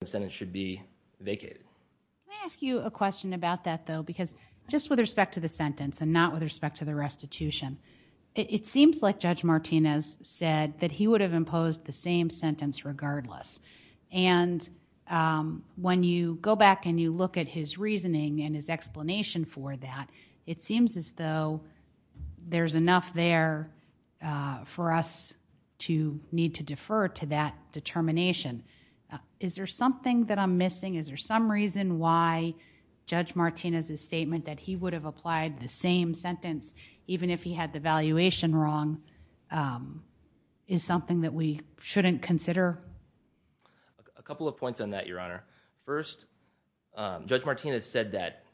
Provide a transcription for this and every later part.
the Senate should be vacated. Can I ask you a question about that though? Because just with respect to the sentence and not with respect to the restitution, it seems like Judge Martinez said that he would have imposed the same sentence regardless. And when you go back and you look at his reasoning and his explanation for that, it seems as though there's enough there for us to need to defer to that determination. Is there something that I'm missing? Is there some reason why Judge Martinez's statement that he would have applied the same sentence even if he had the valuation wrong is something that we shouldn't consider? A couple of points on that, Your Honor. First, Judge Martinez said that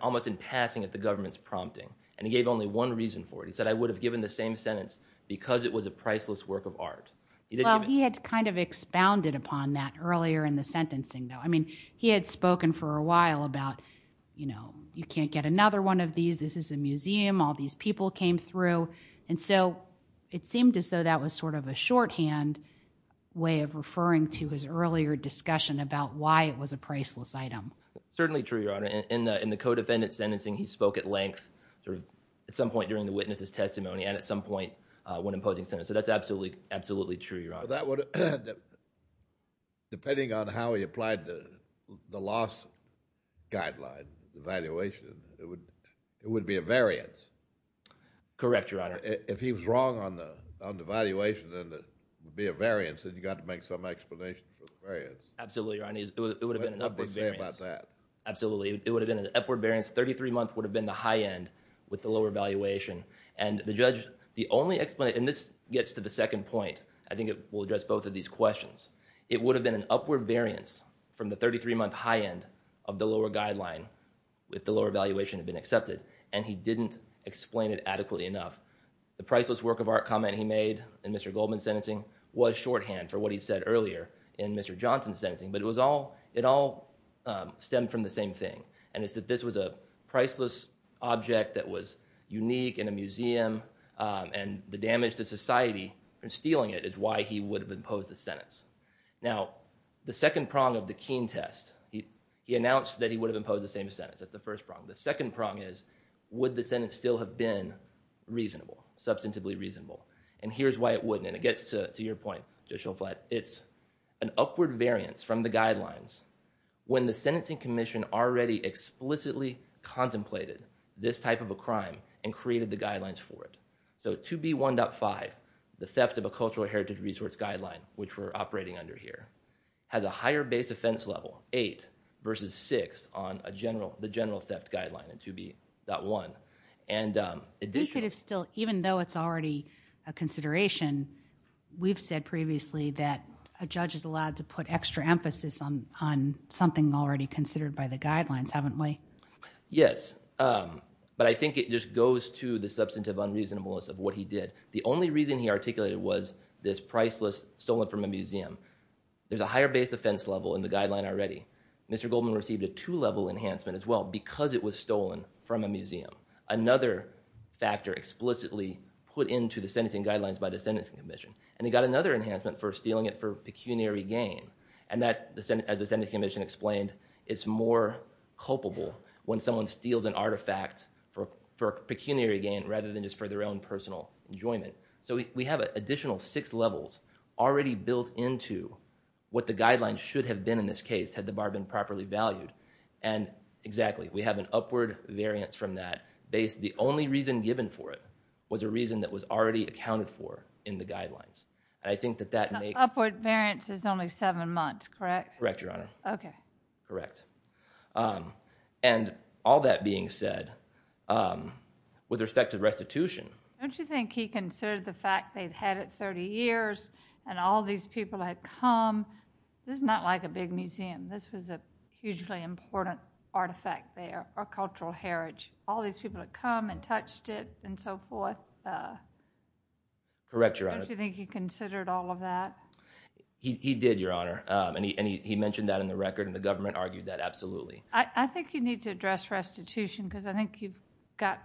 almost in passing that the government's prompting. And he gave only one reason for it. He said, I would have given the same sentence because it was a priceless work of art. Well, he had kind of expounded upon that earlier in the sentencing though. I mean, he had spoken for a while about, you know, you can't get another one of these. This is a museum. All these people came through. And so, it seemed as though that was sort of a shorthand way of referring to his earlier discussion about why it was a priceless item. Certainly true, Your Honor. In the co-defendant's sentencing, he spoke at length at some point during the witness's testimony and at some point when imposing sentence. So that's absolutely true, Your Honor. Depending on how he applied the loss guideline, the valuation, it would be a variance. Correct, Your Honor. If he was wrong on the valuation, then it would be a variance and you got to make some explanation for the variance. Absolutely, Your Honor. It would have been an upward variance. It would have been an upward variance. 33 months would have been the high end with the lower valuation. And the judge, the only explanation, and this gets to the second point, I think it will address both of these questions. It would have been an upward variance from the 33-month high end of the lower guideline if the lower valuation had been accepted. And he didn't explain it adequately enough. The priceless work of art comment he made in Mr. Goldman's sentencing was shorthand for what he said earlier in Mr. Johnson's sentencing, but it all stemmed from the same thing. And it's that this was a priceless object that was unique in a museum, and the damage to society from stealing it is why he would have imposed the sentence. Now, the second prong of the keen test, he announced that he would have imposed the same sentence. That's the first prong. The second prong is, would the sentence still have been reasonable? Substantively reasonable. And here's why it wouldn't. And it gets to your point, Judge Schoflatt. It's an upward variance from the guidelines when the sentencing commission already explicitly contemplated this type of a crime and created the guidelines for it. So 2B.1.5, the theft of a cultural heritage resource guideline, which we're operating under here, has a higher base offense level, 8 versus 6 on the general theft guideline in 2B.1. And in addition... Even though it's already a consideration, we've said previously that a judge is allowed to put extra emphasis on something already considered by the guidelines, haven't we? Yes. But I think it just goes to the substantive unreasonableness of what he did. The only reason he articulated was this priceless stolen from a museum. There's a higher base offense level in the guideline already. Mr. Goldman received a two-level enhancement as well because it was stolen from a museum. Another factor explicitly put into the sentencing guidelines by the sentencing commission. And he got another enhancement for stealing it for pecuniary gain. And that, as the sentencing commission explained, it's more culpable when someone steals an artifact for pecuniary gain rather than just for their own personal enjoyment. So we have additional six levels already built into what the guidelines should have been in this case had the bar been properly valued. And, exactly, we have an upward variance from that. The only reason given for it was a reason that was already accounted for in the guidelines. And I think that that makes... Correct? Correct, Your Honor. Okay. Correct. And all that being said, with respect to restitution... Don't you think he considered the fact they'd had it 30 years and all these people had come? This is not like a big museum. This was a hugely important artifact there, a cultural heritage. All these people had come and touched it and so forth. Correct, Your Honor. Don't you think he considered all of that? He did, Your Honor. And he mentioned that in the record and the government argued that, absolutely. I think you need to address restitution because I think you've got,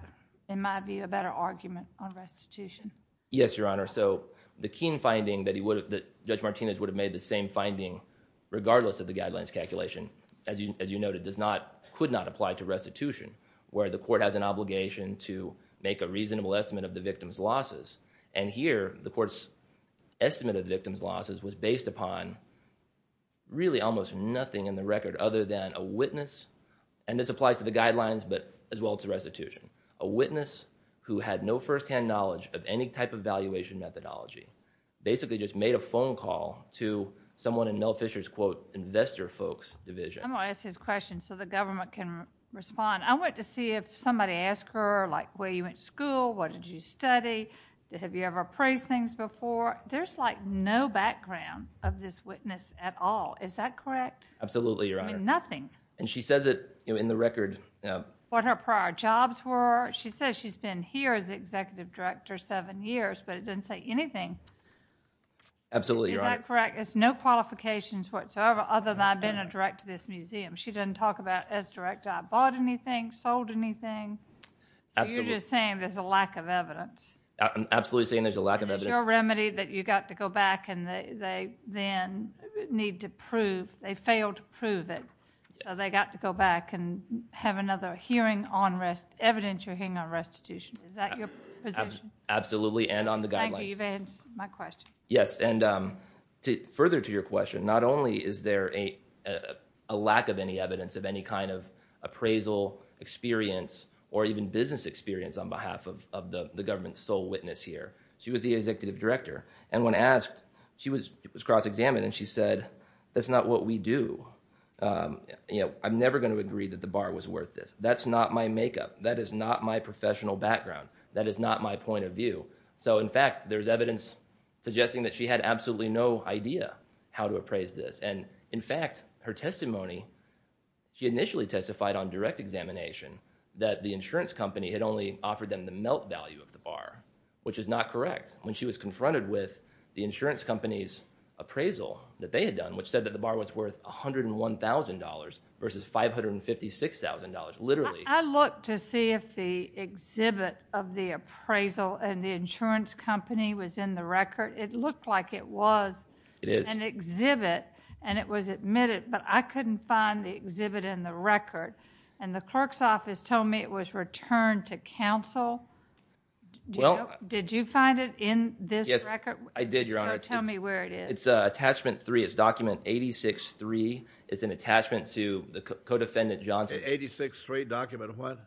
in my view, a better argument on restitution. Yes, Your Honor. So the Keene finding that Judge Martinez would have made the same finding regardless of the guidelines calculation, as you noted, could not apply to restitution where the court has an obligation to make a reasonable estimate of the victim's losses. And here, the court's estimate of the victim's losses was based upon really almost nothing in the record other than a witness, and this applies to the guidelines, but as well to restitution. A witness who had no first-hand knowledge of any type of valuation methodology basically just made a phone call to someone in Mel Fisher's investor folks division. I'm going to ask his question so the government can respond. I want to see if somebody asked her where you went to school, what did you ever praise things before? There's like no background of this witness at all. Is that correct? Absolutely, Your Honor. I mean, nothing. And she says it in the record. What her prior jobs were. She says she's been here as executive director seven years, but it doesn't say anything. Absolutely, Your Honor. Is that correct? There's no qualifications whatsoever other than I've been a director of this museum. She doesn't talk about as director I bought anything, sold anything. So you're just saying there's a lack of evidence. Is there a remedy that you got to go back and they then need to prove, they failed to prove it, so they got to go back and have another hearing on rest, evidence you're hearing on restitution. Is that your position? Absolutely, and on the guidelines. Thank you, you've answered my question. Yes, and further to your question, not only is there a lack of any evidence of any kind of appraisal experience or even business experience on behalf of the government's sole witness here. She was the executive director, and when asked she was cross-examined, and she said, that's not what we do. I'm never going to agree that the bar was worth this. That's not my makeup. That is not my professional background. That is not my point of view. So in fact, there's evidence suggesting that she had absolutely no idea how to appraise this, and in fact, her testimony she initially testified on direct examination that the insurance company had only offered them the melt value of the bar, which is not correct. When she was confronted with the insurance company's appraisal that they had done, which said that the bar was worth $101,000 versus $556,000, literally. I looked to see if the exhibit of the appraisal and the insurance company was in the record. It looked like it was an exhibit, and it was admitted, but I couldn't find the exhibit in the record, and the clerk's office told me it was returned to counsel. Did you find it in this record? Yes, I did, Your Honor. Tell me where it is. It's attachment 3. It's document 86-3. It's an attachment to the co-defendant Johnson. 86-3, document what?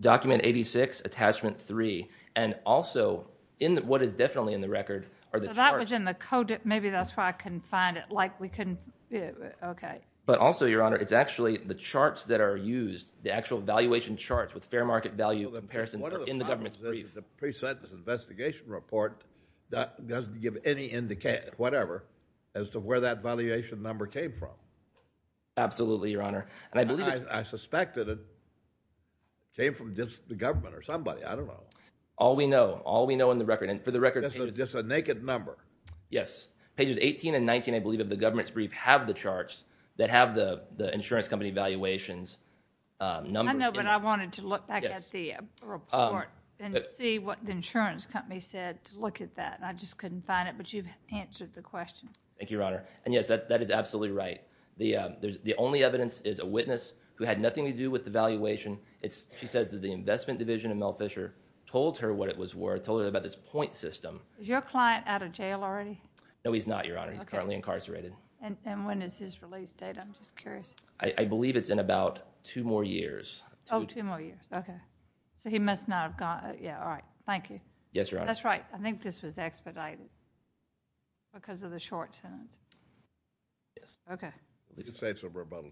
Document 86, attachment 3, and also, what is definitely in the record are the charts. So that was in the co-defendant, maybe that's why I couldn't find it. Okay. But also, Your Honor, it's actually the charts that are used, the actual valuation charts with fair market value comparisons in the government's brief. The pre-sentence investigation report doesn't give any indication, whatever, as to where that valuation number came from. Absolutely, Your Honor. I suspected it came from just the government or somebody, I don't know. All we know. All we know in the record, and for the record... This is just a naked number. Yes. Pages 18 and 19, I believe, of the government's insurance company valuations numbers. I know, but I wanted to look back at the report and see what the insurance company said to look at that. I just couldn't find it, but you've answered the question. Thank you, Your Honor. And yes, that is absolutely right. The only evidence is a witness who had nothing to do with the valuation. She says that the investment division of Mel Fisher told her what it was worth, told her about this point system. Is your client out of jail already? No, he's not, Your Honor. He's currently incarcerated. And when is his release date? I'm just curious. I believe it's in about two more years. Oh, two more years. Okay. So he must not have gone... Yeah, all right. Thank you. Yes, Your Honor. That's right. I think this was expedited because of the short sentence. Yes. Okay. Let's just say it's a rebuttal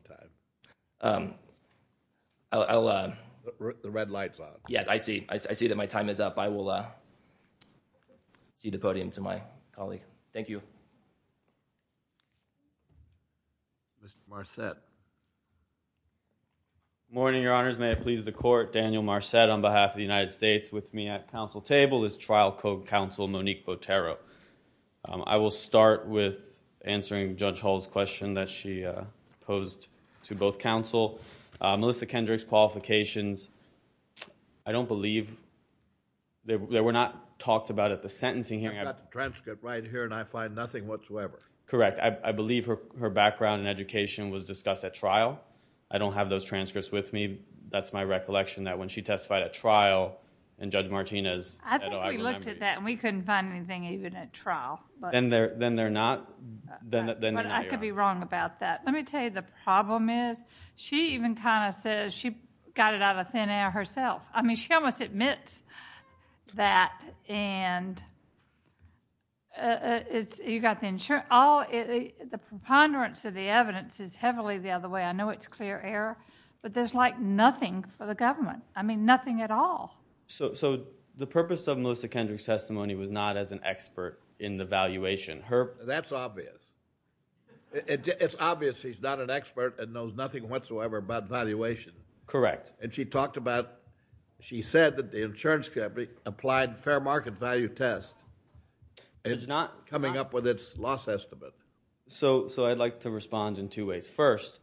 time. I'll... The red light's on. Yes, I see. I see that my time is up. I will cede the podium to my colleague. Thank you. Mr. Marcet. Good morning, Your Honors. May it please the Court. Daniel Marcet on behalf of the United States with me at council table. This is Trial Code Counsel Monique Botero. I will start with answering Judge Hall's question that she posed to both counsel. Melissa Kendrick's qualifications, I don't believe they were not talked about but the sentencing hearing... I've got the transcript right here and I find nothing whatsoever. Correct. I believe her background and education was discussed at trial. I don't have those transcripts with me. That's my recollection that when she testified at trial and Judge Martinez... I think we looked at that and we couldn't find anything even at trial. Then they're not... I could be wrong about that. Let me tell you the problem is she even kind of says she got it out of thin air herself. I mean she almost admits that and you got the insurance. The preponderance of the evidence is heavily the other way. I know it's clear error but there's like nothing for the government. I mean nothing at all. So the purpose of Melissa Kendrick's testimony was not as an expert in the valuation. That's obvious. It's obvious she's not an expert and knows nothing whatsoever about valuation. Correct. And she talked about she said that the insurance company applied fair market value test and is not coming up with its loss estimate. So I'd like to respond in two ways. First,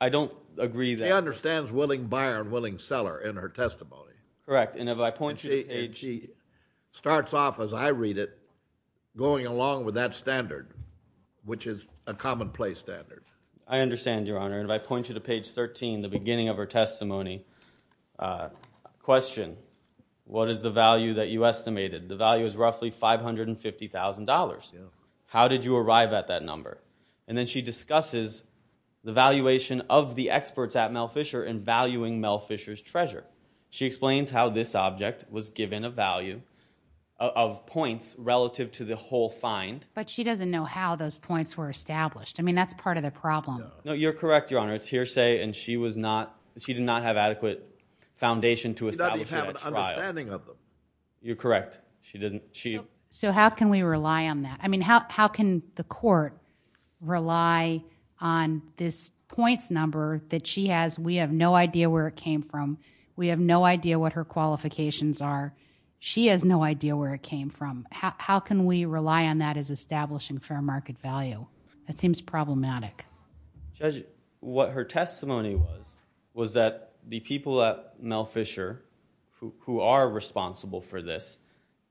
I don't agree that... She understands willing buyer and willing seller in her testimony. Correct. And if I point you to page... She starts off as I read it going along with that standard which is a common place standard. I understand, Your Honor. And if I point you to page 13, the beginning of her testimony, question, what is the value that you estimated? The value is roughly $550,000. How did you arrive at that number? And then she discusses the valuation of the experts at Mel Fisher and valuing Mel Fisher's treasure. She explains how this object was given a value of points relative to the whole find. But she doesn't know how those points were established. I mean that's part of the problem. No, you're correct, Your Honor. It's hearsay and she did not have adequate foundation to establish that trial. She doesn't even have an understanding of them. You're correct. So how can we rely on that? How can the court rely on this points number that she has? We have no idea where it came from. We have no idea what her qualifications are. She has no idea where it came from. How can we rely on that as establishing fair market value? That seems problematic. Judge, what her testimony was, was that the people at Mel Fisher who are responsible for this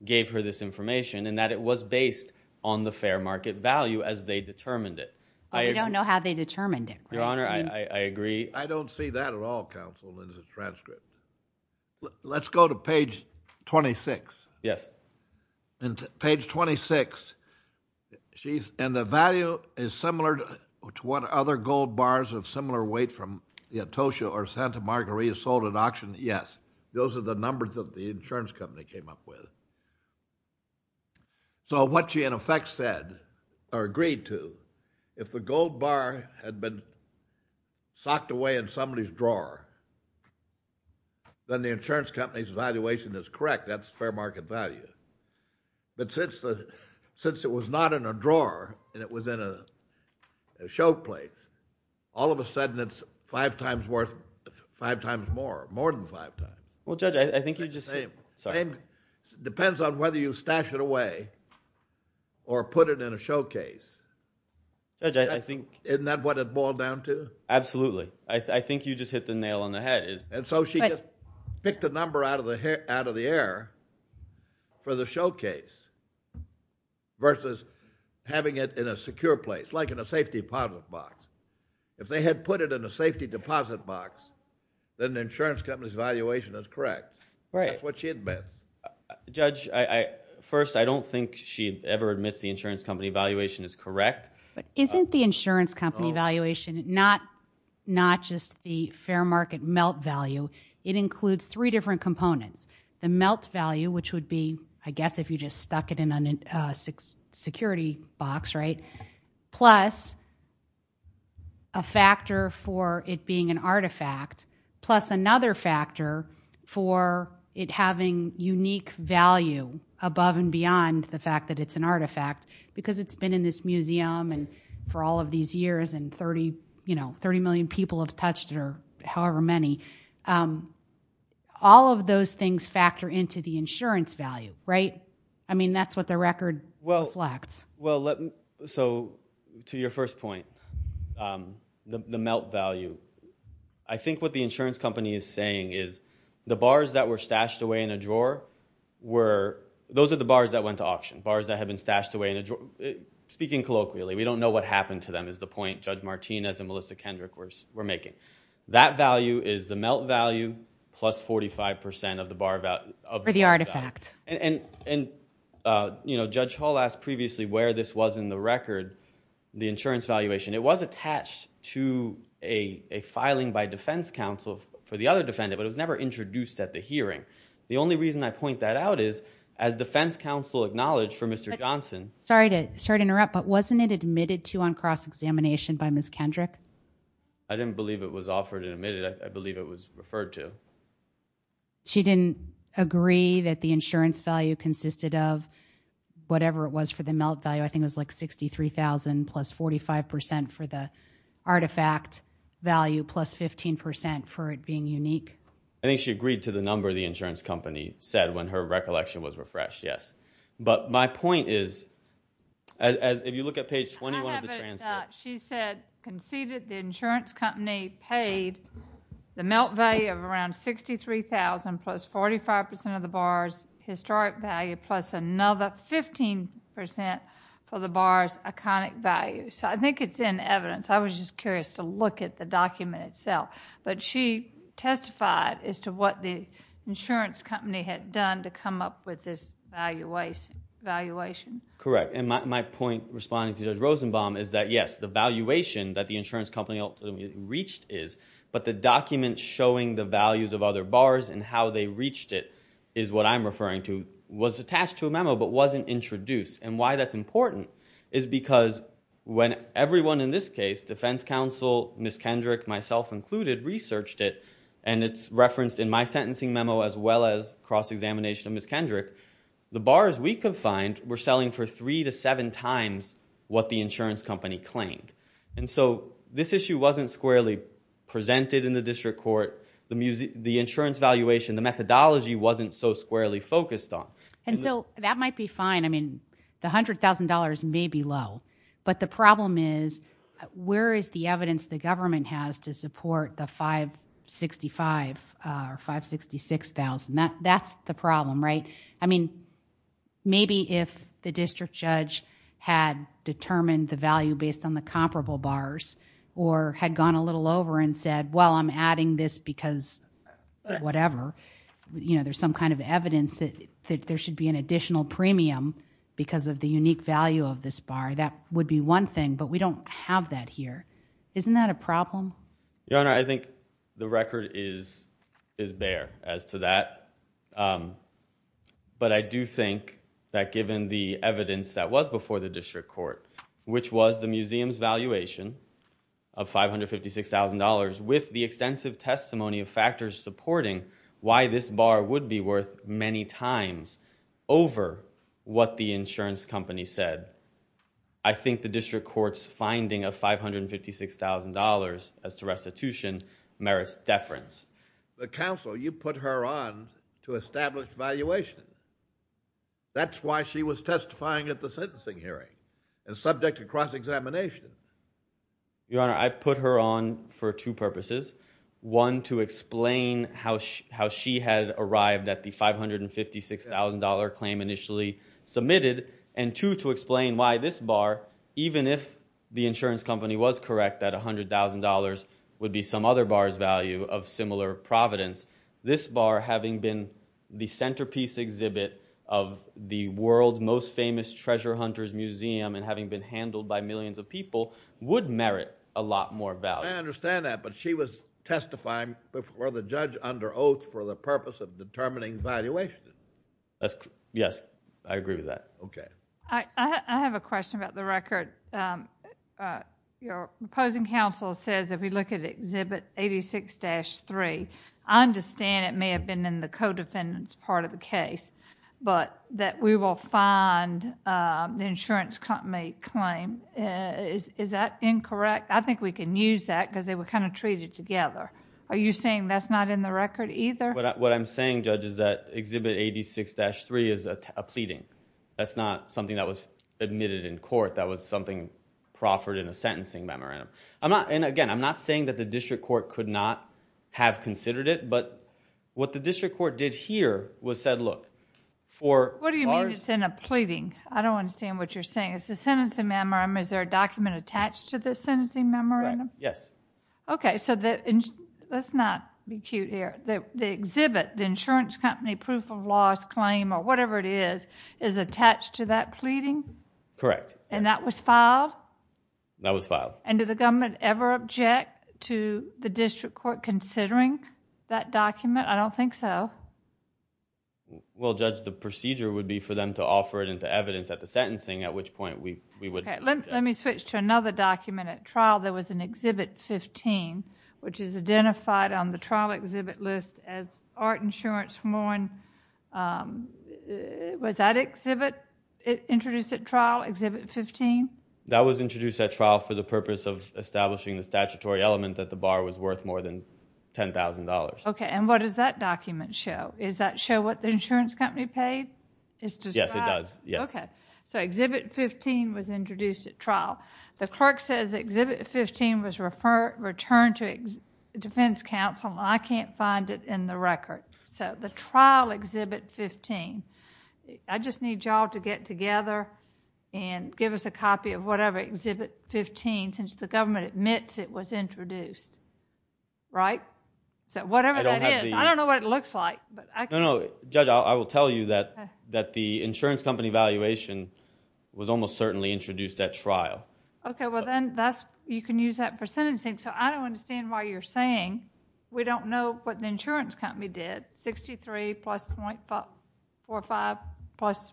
gave her this information and that it was based on the fair market value as they determined it. But we don't know how they determined it. Your Honor, I agree. I don't see that at all counsel in the transcript. Let's go to page 26. Yes. Page 26 Yes. And the value is similar to what other gold bars of similar weight from the Atocha or Santa Margarita sold at auction? Yes. Those are the numbers that the insurance company came up with. So what she in effect said or agreed to, if the gold bar had been socked away in somebody's drawer, then the insurance company's valuation is correct. That's fair market value. But since it was not in a drawer and it was in a show place, all of a sudden it's five times worth, five times more, more than five times. Well, Judge, I think you just... Depends on whether you stash it away or put it in a showcase. Judge, I think... Isn't that what it boiled down to? Absolutely. I think you just hit the nail on the head. And so she just picked the number out of the air for the showcase versus having it in a secure place, like in a safety deposit box. If they had put it in a safety deposit box, then the insurance company's valuation is correct. Right. That's what she admits. Judge, first, I don't think she ever admits the insurance company valuation is correct. But isn't the insurance company valuation not just the fair market melt value? It would be, I guess, if you just stuck it in a security box, right? Plus a factor for it being an artifact, plus another factor for it having unique value above and beyond the fact that it's an artifact, because it's been in this museum for all of these years, and 30 million people have touched it, or however many. All of those things factor into the insurance value, right? I mean, that's what the record reflects. So, to your first point, the melt value, I think what the insurance company is saying is the bars that were stashed away in a drawer, those are the bars that went to auction, bars that have been stashed away in a drawer. Speaking colloquially, we don't know what happened to them, is the point Judge Martinez and Melissa Kendrick were making. That value is the melt value plus 45% of the bar value. For the artifact. And, Judge Hall asked previously where this was in the record, the insurance valuation. It was attached to a filing by defense counsel for the other defendant, but it was never introduced at the hearing. The only reason I point that out is, as defense counsel acknowledged for Mr. Johnson Sorry to interrupt, but wasn't it admitted to on cross-examination by Ms. Kendrick? I didn't believe it was offered and admitted. I believe it was referred to. She didn't agree that the insurance value consisted of whatever it was for the melt value. I think it was like $63,000 plus 45% for the artifact value plus 15% for it being unique. I think she agreed to the number the insurance company said when her recollection was refreshed, yes. But, my point is if you look at page 21 of the transcript. She said, conceded the insurance company paid the melt value of around $63,000 plus 45% of the bar's historic value plus another 15% for the bar's iconic value. I think it's in evidence. I was just curious to look at the document itself. She testified as to what the insurance company had done to come up with this valuation. Correct. My point, responding to Judge Rosenbaum, is that yes, the valuation that the insurance company reached is, but the document showing the values of other bars and how they reached it is what I'm referring to was attached to a memo but wasn't introduced. Why that's important is because when everyone in this case, the defense counsel, Ms. Kendrick, myself included, researched it and it's referenced in my sentencing memo as well as cross-examination of Ms. Kendrick. The bars we could find were selling for three to seven times what the insurance company claimed. This issue wasn't squarely presented in the district court. The insurance valuation, the methodology wasn't so squarely focused on. That might be fine. The $100,000 may be low, but the problem is, where is the evidence the government has to support the $565,000 or $566,000? That's the problem, right? Maybe if the district judge had determined the value based on the comparable bars or had gone a little over and said, well, I'm adding this because whatever. There's some kind of evidence that there should be an additional premium because of the unique value of this bar. That would be one thing, but we don't have that here. Isn't that a problem? I think the record is there as to that, but I do think that given the evidence that was before the district court, which was the museum's valuation of $556,000 with the extensive testimony of factors supporting why this bar would be worth many times over what the insurance company said, I think the district court's finding of $556,000 as to restitution merits deference. The counsel, you put her on to establish valuation. That's why she was testifying at the sentencing hearing and subject to cross-examination. Your Honor, I put her on for two purposes. One, to explain how she had arrived at the $556,000 claim initially submitted and two, to explain why this bar, even if the insurance company was correct that $100,000 would be some other bar's value of similar providence, this bar, having been the centerpiece exhibit of the world's most famous treasure hunter's museum and having been handled by millions of people, would merit a lot more value. I understand that, but she was testifying before the judge under oath for the purpose of determining valuation. Yes, I agree with that. Okay. I have a question about the record. Your opposing counsel says if we look at exhibit 86-3, I understand it may have been in the co-defendant's part of the case, but that we will find the insurance company claim. Is that incorrect? I think we can use that because they were kind of treated together. Are you saying that's not in the record either? What I'm saying, Judge, is that exhibit 86-3 is a pleading. That's not something that was admitted in court. That was something proffered in a sentencing memorandum. Again, I'm not saying that the district court could not have considered it, but what the district court did here was said, look, for bars... What do you mean it's in a pleading? I don't understand what you're saying. It's a sentencing memorandum. Is there a document attached to the sentencing memorandum? Yes. Okay. Let's not be cute here. The exhibit, the insurance company proof of loss claim or whatever it is, is attached to that pleading? Correct. And that was filed? That was filed. And did the government ever object to the district court considering that document? I don't think so. Well, Judge, the procedure would be for them to offer it into evidence at the sentencing, at which point we would... Let me switch to another document. At trial, there was an exhibit 15, which is identified on the trial exhibit list as art insurance from John... Was that exhibit introduced at trial, exhibit 15? That was introduced at trial for the purpose of establishing the statutory element that the bar was worth more than $10,000. Okay. And what does that document show? Does that show what the insurance company paid? Yes, it does. Yes. Okay. So exhibit 15 was introduced at trial. The clerk says exhibit 15 was returned to defense counsel. I can't find it in the record. So the trial exhibit 15. I just need y'all to get together and give us a copy of whatever exhibit 15 since the government admits it was introduced. Right? So whatever that is... I don't have the... I don't know what it looks like, but I... No, no. Judge, I will tell you that the insurance company valuation was almost certainly introduced at trial. Okay. Well, then that's... you can use that for sentencing. So I don't understand why you're saying we don't know what the insurance company did. 63 plus .45 plus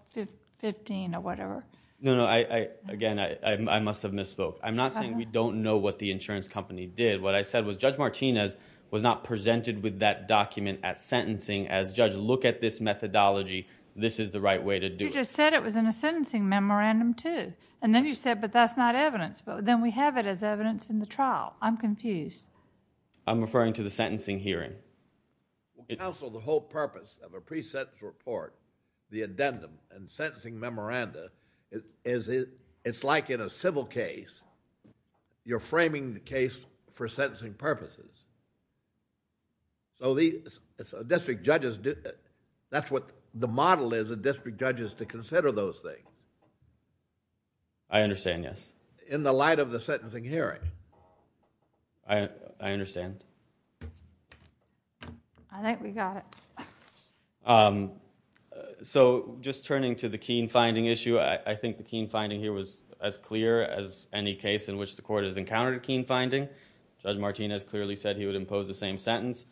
15 or whatever. No, no. I... Again, I must have misspoke. I'm not saying we don't know what the insurance company did. What I said was Judge Martinez was not presented with that document at sentencing as, Judge, look at this methodology. This is the right way to do it. You just said it was in a sentencing memorandum, too. And then you said, but that's not evidence. Then we have it as evidence in the trial. I'm confused. I'm referring to the sentencing hearing. Counsel, the whole purpose of a pre-sentence report, the addendum and sentencing memoranda, is it... it's like in a civil case. You're framing the case for sentencing purposes. So the... district judges... that's what the model is of district judges to consider those things. I understand, yes. In the light of the sentencing hearing. I understand. I think we got it. So, just turning to the Keene finding issue, I think the Keene finding here was as clear as any case in which the Court has encountered a Keene finding. Judge Martinez clearly said he would impose the same sentence.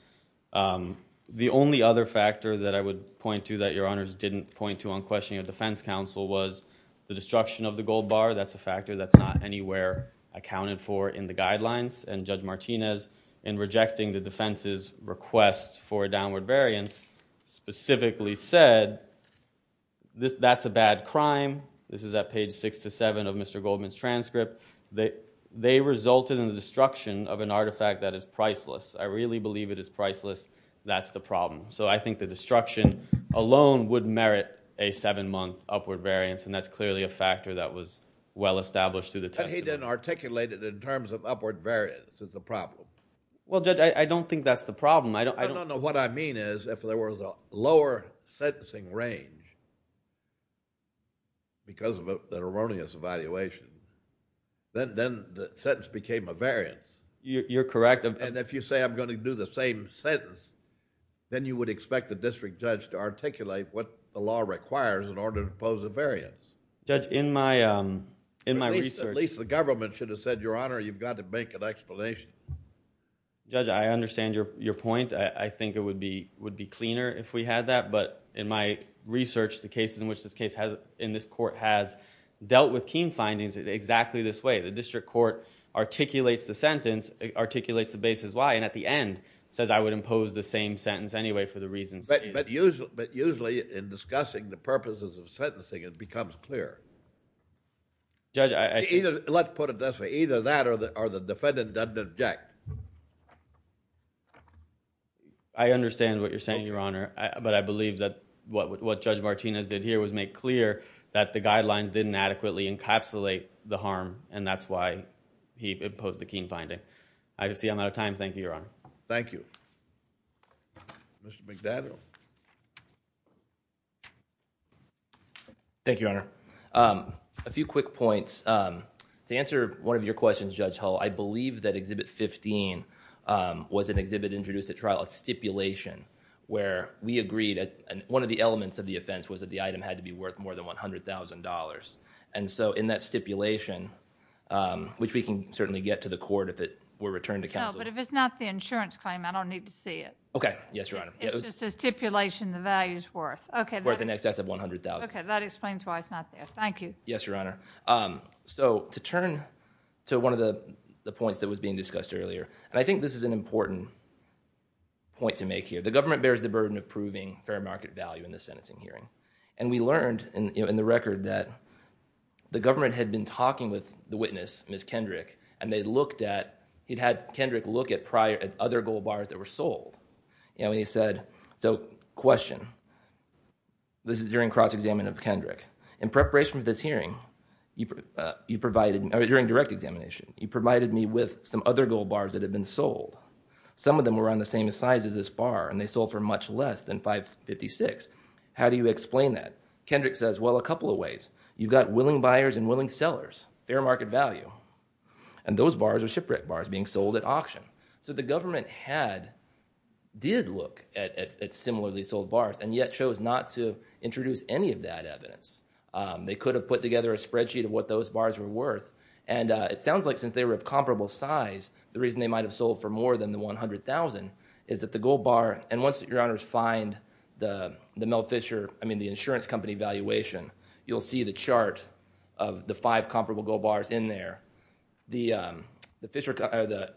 The only other factor that I would point to that Your Honors didn't point to on questioning a defense counsel was the destruction of the gold bar. That's a factor that's not anywhere accounted for in the guidelines. And Judge Martinez, in rejecting the defense's request for a downward variance, specifically said that's a bad crime. This is at page 6-7 of Mr. Goldman's transcript. They resulted in the destruction of an artifact that is priceless. I really believe it is priceless. That's the problem. So I think the destruction alone would merit a seven-month upward variance, and that's clearly a factor that was well-established through the testimony. But he didn't articulate it in terms of upward variance is the problem. Well, Judge, I don't think that's the problem. No, no, no. What I mean is if there was a lower sentencing range because of an erroneous evaluation, then the sentence became a variance. You're correct. And if you say I'm going to do the same sentence, then you would expect the district judge to articulate what the law requires in order to pose a variance. At least the government should have said, Your Honor, you've got to make an explanation. Judge, I understand your point. I think it would be cleaner if we had that, but in my research, the cases in which this case has, in this court, has dealt with Keene findings exactly this way. The district court articulates the sentence, articulates the basis why, and at the end says I would impose the same sentence anyway for the reasons. But usually in discussing the purposes of sentencing, it becomes clear. Judge, I... Let's put it this way. Either that or the defendant doesn't object. I understand what you're saying, Your Honor, but I believe that what Judge Martinez did here was make clear that the guidelines didn't adequately encapsulate the harm, and that's why he imposed the Keene finding. I see I'm out of time. Thank you, Your Honor. Thank you. Mr. McDaniel. Thank you, Your Honor. A few quick points. To answer one of your questions, Judge Hull, I believe that Exhibit 15 was an exhibit introduced at trial, a stipulation, where we agreed, and one of the elements of the offense was that the item had to be worth more than $100,000. And so in that stipulation, which we can certainly get to the court if it is not the insurance claim, I don't need to see it. Okay. Yes, Your Honor. It's just a stipulation the value's worth. Okay. Worth in excess of $100,000. Okay. That explains why it's not there. Thank you. Yes, Your Honor. So, to turn to one of the points that was being discussed earlier, and I think this is an important point to make here. The government bears the burden of proving fair market value in the sentencing hearing, and we learned in the record that the government had been talking with the witness, Ms. Kendrick, and they looked at other gold bars that were sold. And they said, so, question. This is during cross-examination of Kendrick. In preparation for this hearing, during direct examination, you provided me with some other gold bars that had been sold. Some of them were on the same size as this bar, and they sold for much less than $556,000. How do you explain that? Kendrick says, well, a couple of ways. You've got willing buyers and willing sellers. Fair market value. And those bars are shipwrecked bars being sold at auction. So the government had, did look at similarly sold bars, and yet chose not to introduce any of that evidence. They could have put together a spreadsheet of what those bars were worth, and it sounds like since they were of comparable size, the reason they might have sold for more than the $100,000 is that the gold bar, and once your honors find the Mel Fisher, I mean the insurance company valuation, you'll see the chart of the five comparable gold bars in there. The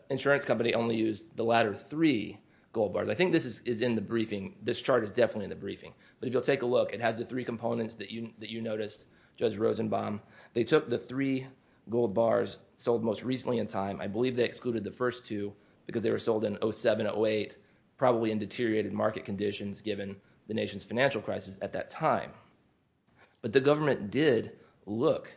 insurance company only used the latter three gold bars. I think this is in the briefing. This chart is definitely in the briefing. But if you'll take a look, it has the three components that you noticed, Judge Rosenbaum. They took the three gold bars sold most recently in time. I believe they excluded the first two because they were sold in 07, 08, probably in deteriorated market conditions given the nation's financial crisis at that time. But the government did look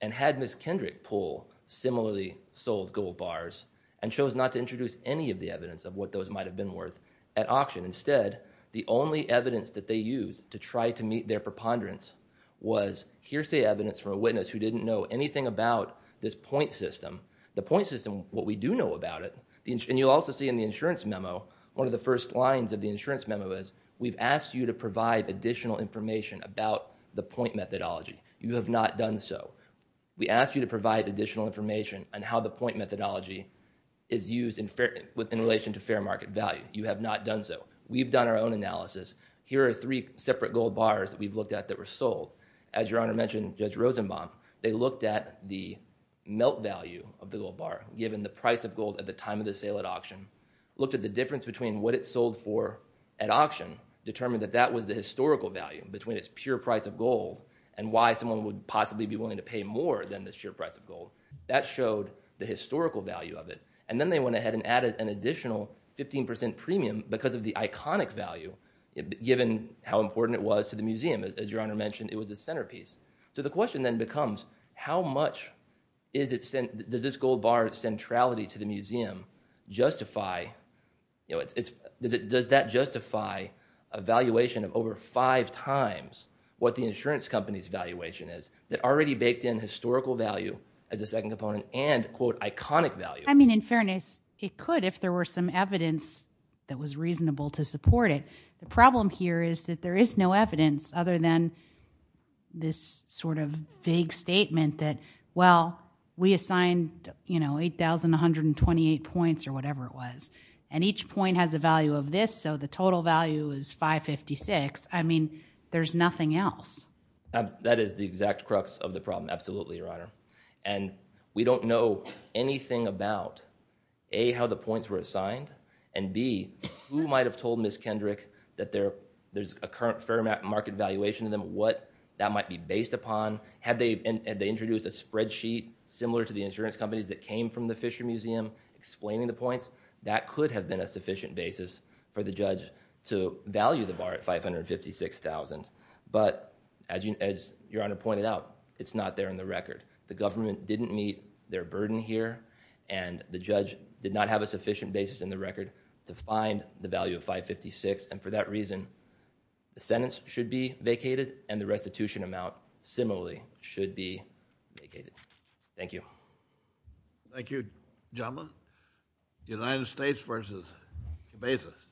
and had Ms. Kendrick pull similarly sold gold bars and chose not to introduce any of the evidence of what those might have been worth at auction. Instead, the only evidence that they used to try to meet their preponderance was hearsay evidence from a witness who didn't know anything about this point system. The point system, what we do know about it, and you'll also see in the insurance memo, one of the first lines of the insurance memo is, we've asked you to provide additional information about the point methodology. You have not done so. We asked you to provide additional information on how the point methodology is used in relation to fair market value. You have not done so. We've done our own analysis. Here are three separate gold bars that we've looked at that were sold. As Your Honor mentioned, Judge Rosenbaum, they looked at the melt value of the gold bar given the price of gold at the time of the sale at auction, looked at the difference between what it sold for at auction, determined that that was the historical value between its pure price of gold and why someone would possibly be willing to pay more than the sheer price of gold. That showed the historical value of it. And then they went ahead and added an additional 15% premium because of the iconic value given how important it was to the museum. As Your Honor mentioned, it was the centerpiece. So the question then becomes how much does this gold bar's centrality to the museum justify does that justify the valuation of over five times what the insurance company's valuation is that already baked in historical value as a second component and iconic value? I mean in fairness it could if there were some evidence that was reasonable to support it. The problem here is that there is no evidence other than this sort of vague statement that well, we assigned 8,128 points or whatever it was and each point has a value of this so the total value is 556. I mean, there's nothing else. That is the exact crux of the problem. Absolutely, Your Honor. And we don't know anything about A, how the points were assigned and B, who might have told Ms. Kendrick that there's a current fair market valuation of them, what that might be based upon. Had they introduced a spreadsheet similar to the insurance companies that came from the Fisher Museum explaining the points, that could have been a sufficient basis for the judge to value the bar at 556,000. But as Your Honor pointed out, it's not there in the record. The government didn't meet their burden here and the judge did not have a sufficient basis in the record to find the value of 556 and for that reason, the sentence should be vacated and the restitution amount similarly should be vacated. Thank you. Thank you, Jamba. United States v. Bezos.